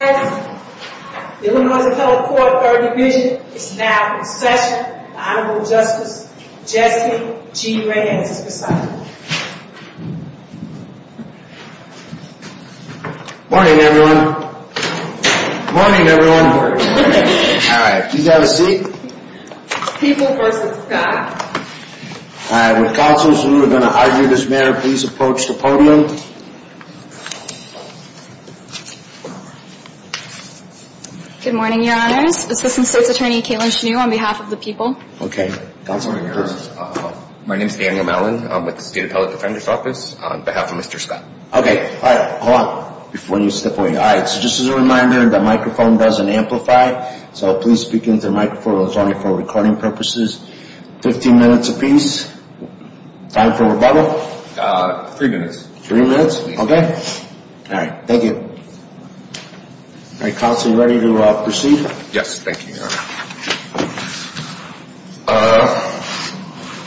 The Illinois Federal Court Third Division is now in session. The Honorable Justice Jesse G. Reyes is presiding. Morning, everyone. Morning, everyone. All right, you got a seat. People v. Scott. All right, would counsels who are going to argue this matter please approach the podium. Good morning, Your Honors. Assistant State's Attorney Kaitlin Schnew on behalf of the people. Okay, counsel. My name is Daniel Mellon. I'm with the State Appellate Defender's Office on behalf of Mr. Scott. Okay, all right, hold on before you step away. All right, so just as a reminder, the microphone doesn't amplify, so please speak into the microphone. It's only for recording purposes. Fifteen minutes apiece. Time for rebuttal? Three minutes. Three minutes, okay. All right, thank you. All right, counsel, you ready to proceed? Yes, thank you, Your Honor.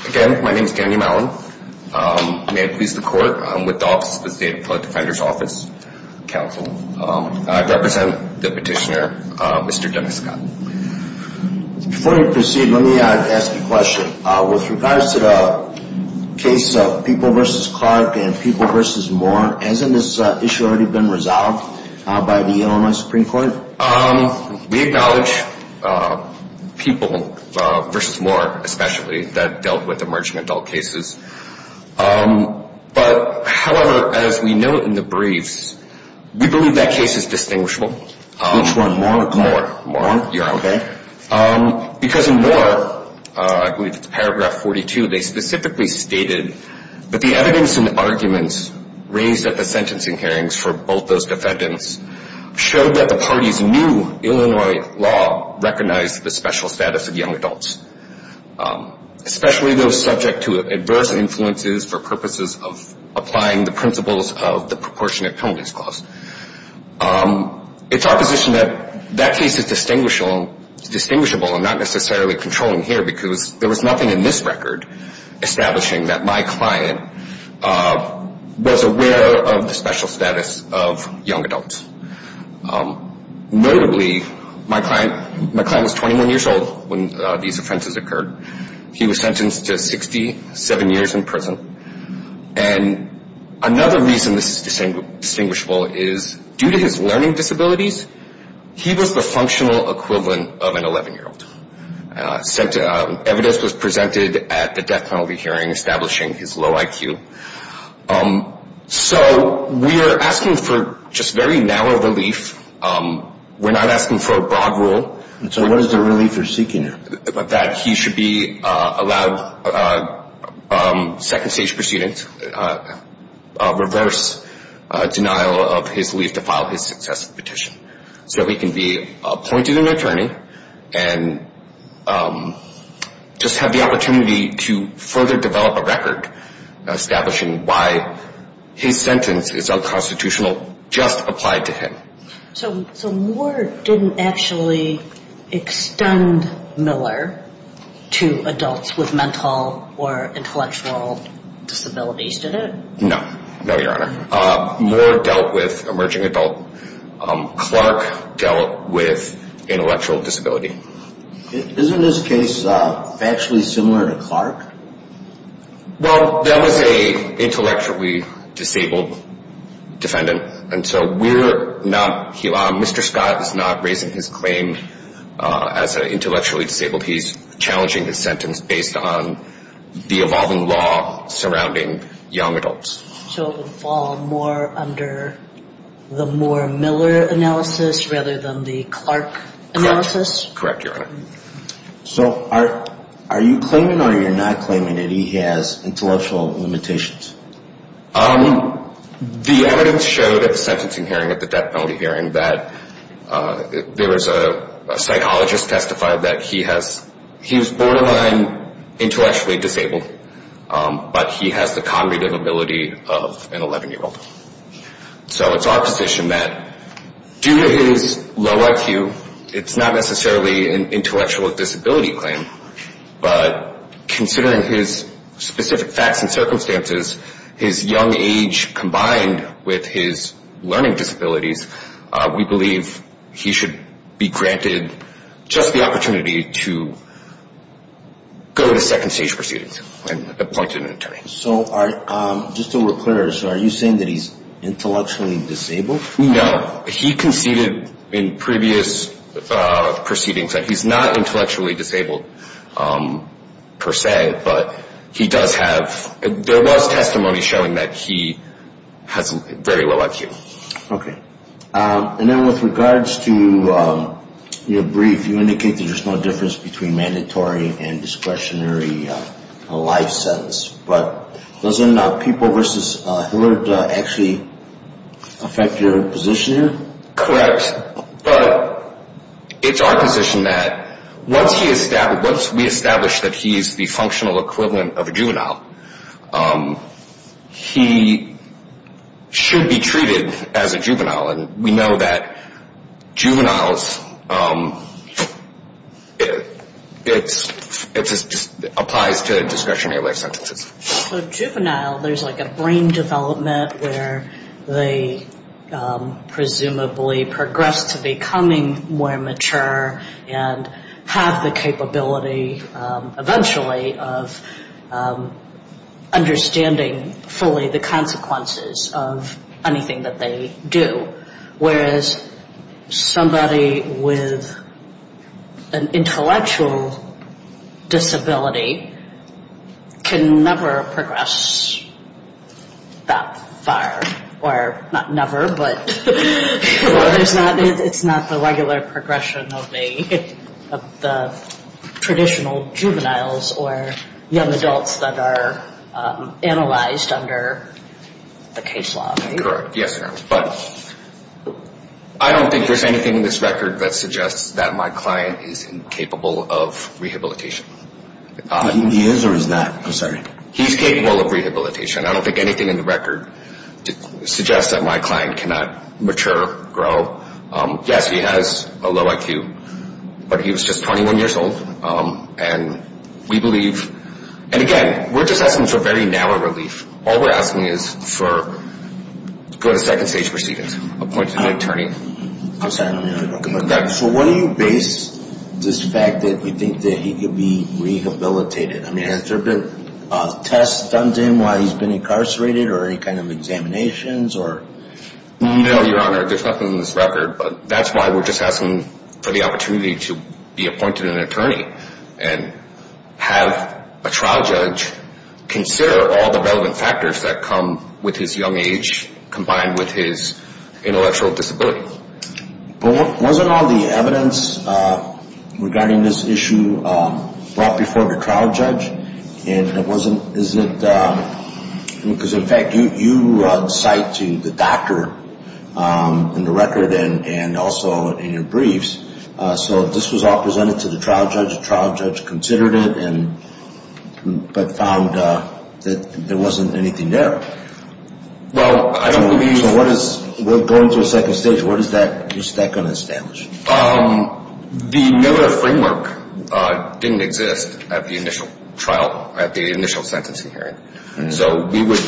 Again, my name is Daniel Mellon. May it please the Court, I'm with the State Appellate Defender's Office Counsel. I represent the petitioner, Mr. Dennis Scott. Before we proceed, let me ask a question. With regards to the case of People v. Clark and People v. Moore, hasn't this issue already been resolved by the Illinois Supreme Court? We acknowledge People v. Moore, especially, that dealt with emerging adult cases. However, as we note in the briefs, we believe that case is distinguishable. Which one, Moore or Clark? Moore. Moore, Your Honor. Okay. Because in Moore, I believe it's paragraph 42, they specifically stated that the evidence and arguments raised at the sentencing hearings for both those defendants showed that the parties knew Illinois law recognized the special status of young adults, especially those subject to adverse influences for purposes of applying the principles of the proportionate penalties clause. It's our position that that case is distinguishable and not necessarily controlling here because there was nothing in this record establishing that my client was aware of the special status of young adults. Notably, my client was 21 years old when these offenses occurred. He was sentenced to 67 years in prison. And another reason this is distinguishable is due to his learning disabilities, he was the functional equivalent of an 11-year-old. Evidence was presented at the death penalty hearing establishing his low IQ. So we are asking for just very narrow relief. We're not asking for a broad rule. So what is the relief you're seeking? That he should be allowed second-stage proceedings, reverse denial of his leave to file his successful petition. So he can be appointed an attorney and just have the opportunity to further develop a record establishing why his sentence is unconstitutional just applied to him. So Moore didn't actually extend Miller to adults with mental or intellectual disabilities, did it? No. No, Your Honor. Moore dealt with emerging adult. Clark dealt with intellectual disability. Isn't this case actually similar to Clark? Well, that was an intellectually disabled defendant. And so we're not, Mr. Scott is not raising his claim as an intellectually disabled. He's challenging his sentence based on the evolving law surrounding young adults. So it would fall more under the Moore-Miller analysis rather than the Clark analysis? Correct. Correct, Your Honor. So are you claiming or you're not claiming that he has intellectual limitations? The evidence showed at the sentencing hearing, at the death penalty hearing, that there was a psychologist testified that he was borderline intellectually disabled, but he has the cognitive ability of an 11-year-old. So it's our position that due to his low IQ, it's not necessarily an intellectual disability claim, but considering his specific facts and circumstances, his young age combined with his learning disabilities, we believe he should be granted just the opportunity to go to second stage proceedings and appointed an attorney. So just to be clear, are you saying that he's intellectually disabled? No. He conceded in previous proceedings that he's not intellectually disabled per se, but he does have, there was testimony showing that he has very low IQ. Okay. And then with regards to your brief, you indicated there's no difference between mandatory and discretionary life sentence. But doesn't people versus Hillard actually affect your position here? Correct. But it's our position that once we establish that he's the functional equivalent of a juvenile, and we know that juveniles, it just applies to discretionary life sentences. So juvenile, there's like a brain development where they presumably progress to becoming more mature and have the capability eventually of understanding fully the consequences of anything that they do. Whereas somebody with an intellectual disability can never progress that far. Or not never, but it's not the regular progression of the traditional juveniles or young adults that are analyzed under the case law. Correct. Yes, ma'am. But I don't think there's anything in this record that suggests that my client is incapable of rehabilitation. He is or is not? I'm sorry. He's capable of rehabilitation. I don't think anything in the record suggests that my client cannot mature, grow. Yes, he has a low IQ. But he was just 21 years old. And we believe, and again, we're just asking for very narrow relief. All we're asking is to go to second stage proceedings, appoint an attorney. I'm sorry. So why do you base this fact that you think that he could be rehabilitated? I mean, has there been tests done to him while he's been incarcerated or any kind of examinations or? No, Your Honor. There's nothing in this record. But that's why we're just asking for the opportunity to be appointed an attorney and have a trial judge consider all the relevant factors that come with his young age combined with his intellectual disability. But wasn't all the evidence regarding this issue brought before the trial judge? And it wasn't, is it, because in fact you cite to the doctor in the record and also in your briefs. So this was all presented to the trial judge. The trial judge considered it but found that there wasn't anything there. Well, I don't believe. We're going through a second stage. What is that going to establish? The Miller framework didn't exist at the initial trial, at the initial sentencing hearing. So we would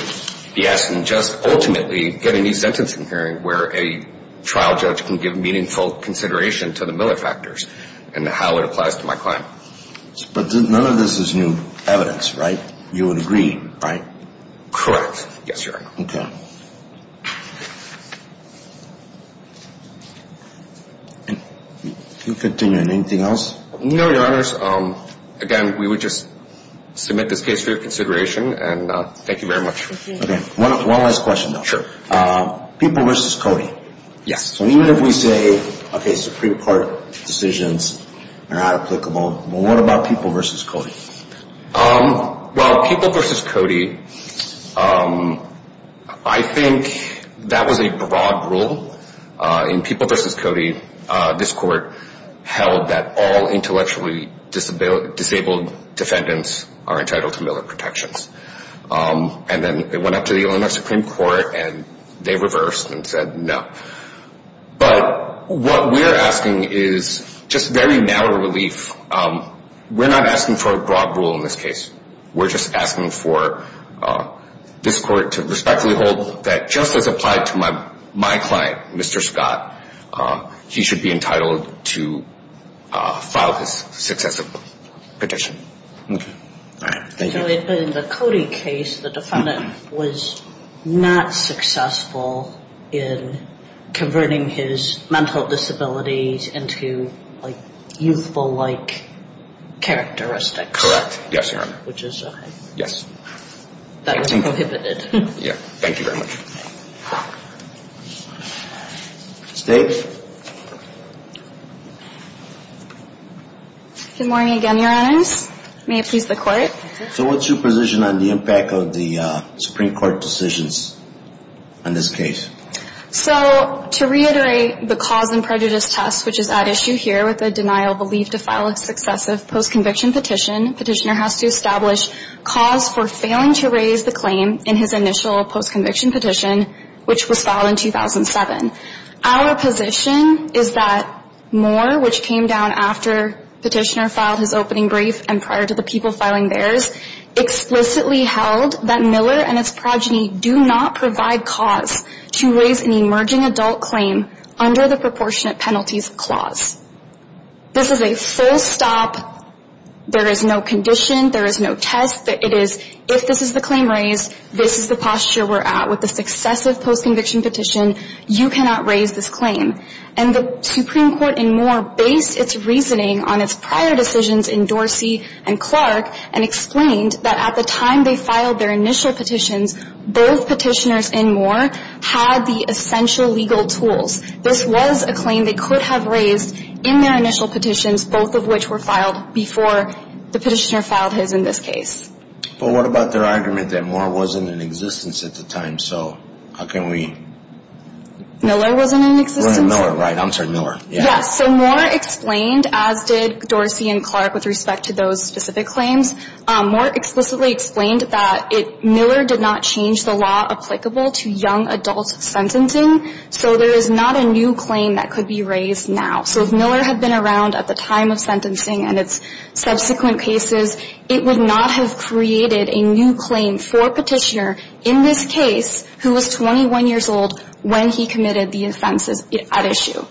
be asking just ultimately get a new sentencing hearing where a trial judge can give meaningful consideration to the Miller factors and how it applies to my client. But none of this is new evidence, right? You would agree, right? Correct. Yes, Your Honor. Okay. You can continue. Anything else? No, Your Honors. Again, we would just submit this case for your consideration and thank you very much. Okay. One last question, though. Sure. People versus Cody. Yes. So even if we say, okay, Supreme Court decisions are not applicable, what about people versus Cody? Well, people versus Cody, I think that was a broad rule. In people versus Cody, this court held that all intellectually disabled defendants are entitled to Miller protections. And then it went up to the Illinois Supreme Court and they reversed and said no. But what we're asking is just very narrow relief. We're not asking for a broad rule in this case. We're just asking for this court to respectfully hold that just as applied to my client, Mr. Scott, he should be entitled to file his successive petition. All right. Thank you. In the Cody case, the defendant was not successful in converting his mental disabilities into youthful-like characteristics. Correct. Yes, Your Honor. Which is okay. Yes. That was prohibited. Yeah. Thank you very much. State. Good morning again, Your Honors. May it please the Court. So what's your position on the impact of the Supreme Court decisions on this case? So to reiterate the cause and prejudice test, which is at issue here with the denial of relief to file a successive post-conviction petition, petitioner has to establish cause for failing to raise the claim in his initial post-conviction petition, which was filed in 2007. Our position is that Moore, which came down after petitioner filed his opening brief and prior to the people filing theirs, explicitly held that Miller and his progeny do not provide cause to raise an emerging adult claim under the proportionate penalties clause. This is a full stop. There is no condition. There is no test. It is if this is the claim raised, this is the posture we're at with the successive post-conviction petition. You cannot raise this claim. And the Supreme Court in Moore based its reasoning on its prior decisions in Dorsey and Clark and explained that at the time they filed their initial petitions, both petitioners in Moore had the essential legal tools. This was a claim they could have raised in their initial petitions, both of which were filed before the petitioner filed his in this case. But what about their argument that Moore wasn't in existence at the time? So how can we? Miller wasn't in existence. Miller, right. I'm sorry, Miller. Yes. So Moore explained, as did Dorsey and Clark with respect to those specific claims, Moore explicitly explained that Miller did not change the law applicable to young adult sentencing. So there is not a new claim that could be raised now. So if Miller had been around at the time of sentencing and its subsequent cases, it would not have created a new claim for a petitioner in this case who was 21 years old when he committed the offenses at issue.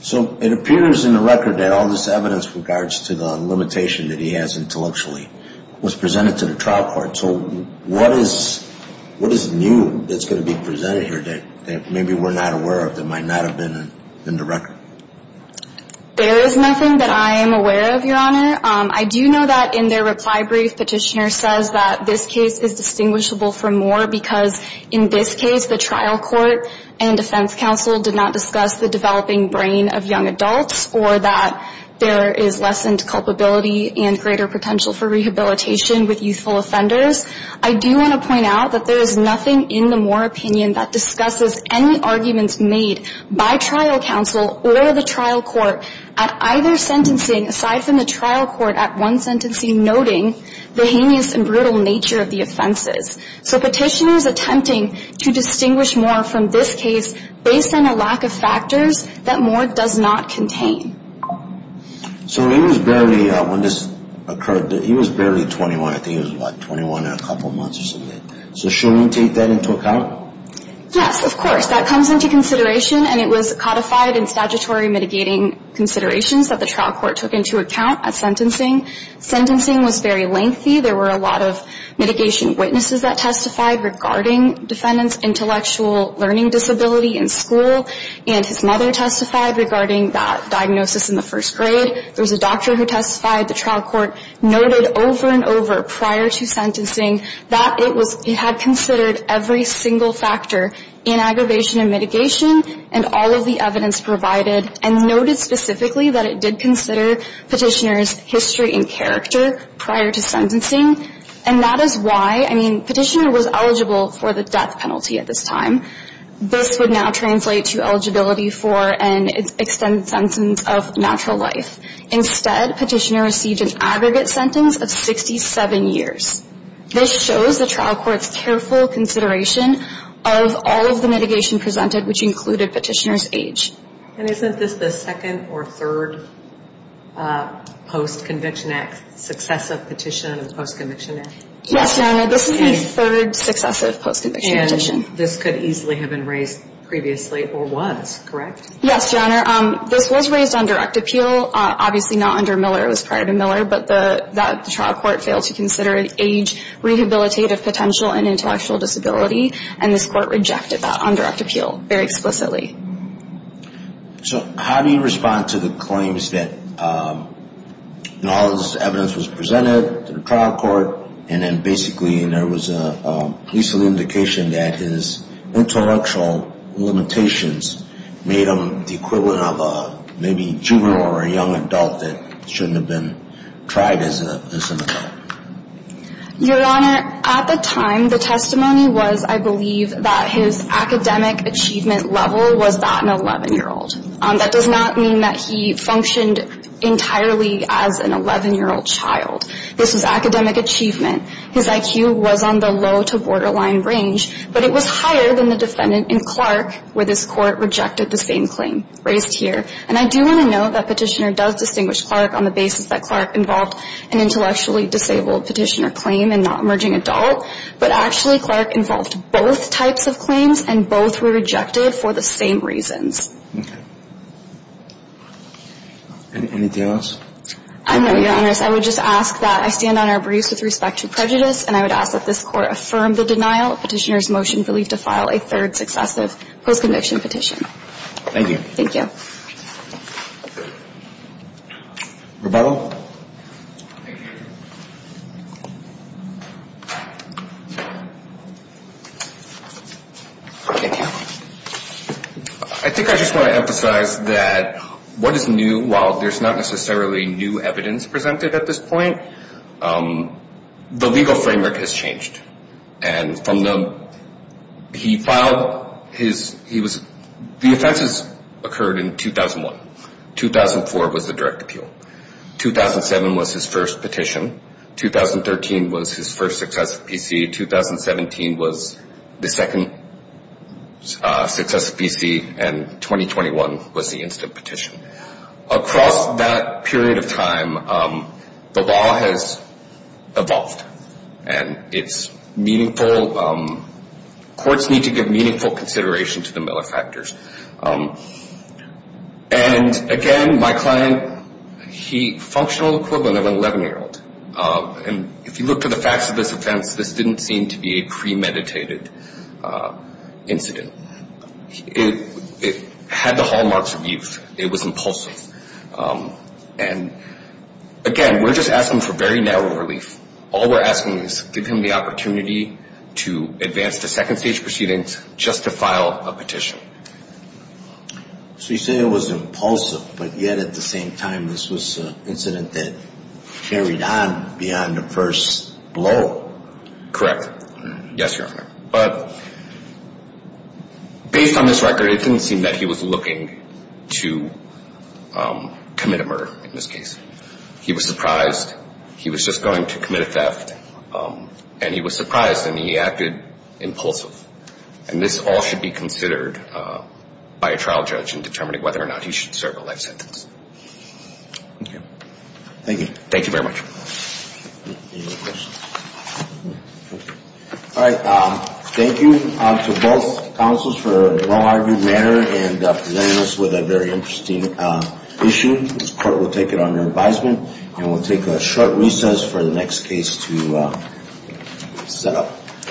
So it appears in the record that all this evidence with regards to the limitation that he has intellectually was presented to the trial court. So what is new that's going to be presented here that maybe we're not aware of that might not have been in the record? There is nothing that I am aware of, Your Honor. I do know that in their reply brief, petitioner says that this case is distinguishable from Moore because in this case, the trial court and defense counsel did not discuss the developing brain of young adults or that there is lessened culpability and greater potential for rehabilitation with youthful offenders. I do want to point out that there is nothing in the Moore opinion that discusses any arguments made by trial counsel or the trial court at either sentencing, aside from the trial court at one sentencing, noting the heinous and brutal nature of the offenses. So petitioners attempting to distinguish Moore from this case based on a lack of factors that Moore does not contain. So he was barely, when this occurred, he was barely 21. I think he was about 21 and a couple months or something. So shouldn't we take that into account? Yes, of course. That comes into consideration and it was codified in statutory mitigating considerations that the trial court took into account at sentencing. Sentencing was very lengthy. There were a lot of mitigation witnesses that testified regarding defendant's intellectual learning disability in school. And his mother testified regarding that diagnosis in the first grade. There was a doctor who testified. The trial court noted over and over prior to sentencing that it was, it had considered every single factor in aggravation and mitigation and all of the evidence provided and noted specifically that it did consider petitioner's history and character prior to sentencing. And that is why, I mean, petitioner was eligible for the death penalty at this time. This would now translate to eligibility for an extended sentence of natural life. Instead, petitioner received an aggregate sentence of 67 years. This shows the trial court's careful consideration of all of the mitigation presented, which included petitioner's age. And isn't this the second or third post-conviction act, successive petition and post-conviction act? Yes, Your Honor. This is the third successive post-conviction petition. And this could easily have been raised previously or was, correct? Yes, Your Honor. This was raised on direct appeal. Obviously not under Miller. It was prior to Miller. But the trial court failed to consider age, rehabilitative potential, and intellectual disability. And this court rejected that on direct appeal very explicitly. So how do you respond to the claims that all of this evidence was presented to the trial court and then basically there was a police indication that his intellectual limitations made him the equivalent of maybe a juvenile or a young adult that shouldn't have been tried as an adult? Your Honor, at the time, the testimony was, I believe, that his academic achievement level was that an 11-year-old. That does not mean that he functioned entirely as an 11-year-old child. This was academic achievement. His IQ was on the low to borderline range. But it was higher than the defendant in Clark, where this court rejected the same claim raised here. And I do want to note that Petitioner does distinguish Clark on the basis that Clark involved an intellectually disabled Petitioner claim and not emerging adult. But actually Clark involved both types of claims, and both were rejected for the same reasons. Okay. Anything else? I know, Your Honor. I would just ask that I stand on our briefs with respect to prejudice, and I would ask that this court affirm the denial of Petitioner's motion for leave to file a third successive post-conviction petition. Thank you. Thank you. Rebuttal? I think I just want to emphasize that what is new, while there's not necessarily new evidence presented at this point, the legal framework has changed. And from the – he filed his – he was – the offenses occurred in 2001. 2004 was the direct appeal. 2007 was his first petition. 2013 was his first successive PC. 2017 was the second successive PC. And 2021 was the instant petition. Across that period of time, the law has evolved, and it's meaningful. Courts need to give meaningful consideration to the Miller factors. And, again, my client, he – functional equivalent of an 11-year-old. And if you look to the facts of this offense, this didn't seem to be a premeditated incident. It had the hallmarks of youth. It was impulsive. And, again, we're just asking for very narrow relief. All we're asking is give him the opportunity to advance to second stage proceedings just to file a petition. So you say it was impulsive, but yet at the same time this was an incident that carried on beyond the first blow. Correct. Yes, Your Honor. But based on this record, it didn't seem that he was looking to commit a murder in this case. He was surprised. He was just going to commit a theft. And he was surprised, and he acted impulsive. And this all should be considered by a trial judge in determining whether or not he should serve a life sentence. Thank you. Thank you. Thank you very much. Any other questions? All right. Thank you to both counsels for a well-argued matter and presenting us with a very interesting issue. This court will take it under advisement, and we'll take a short recess for the next case to set up.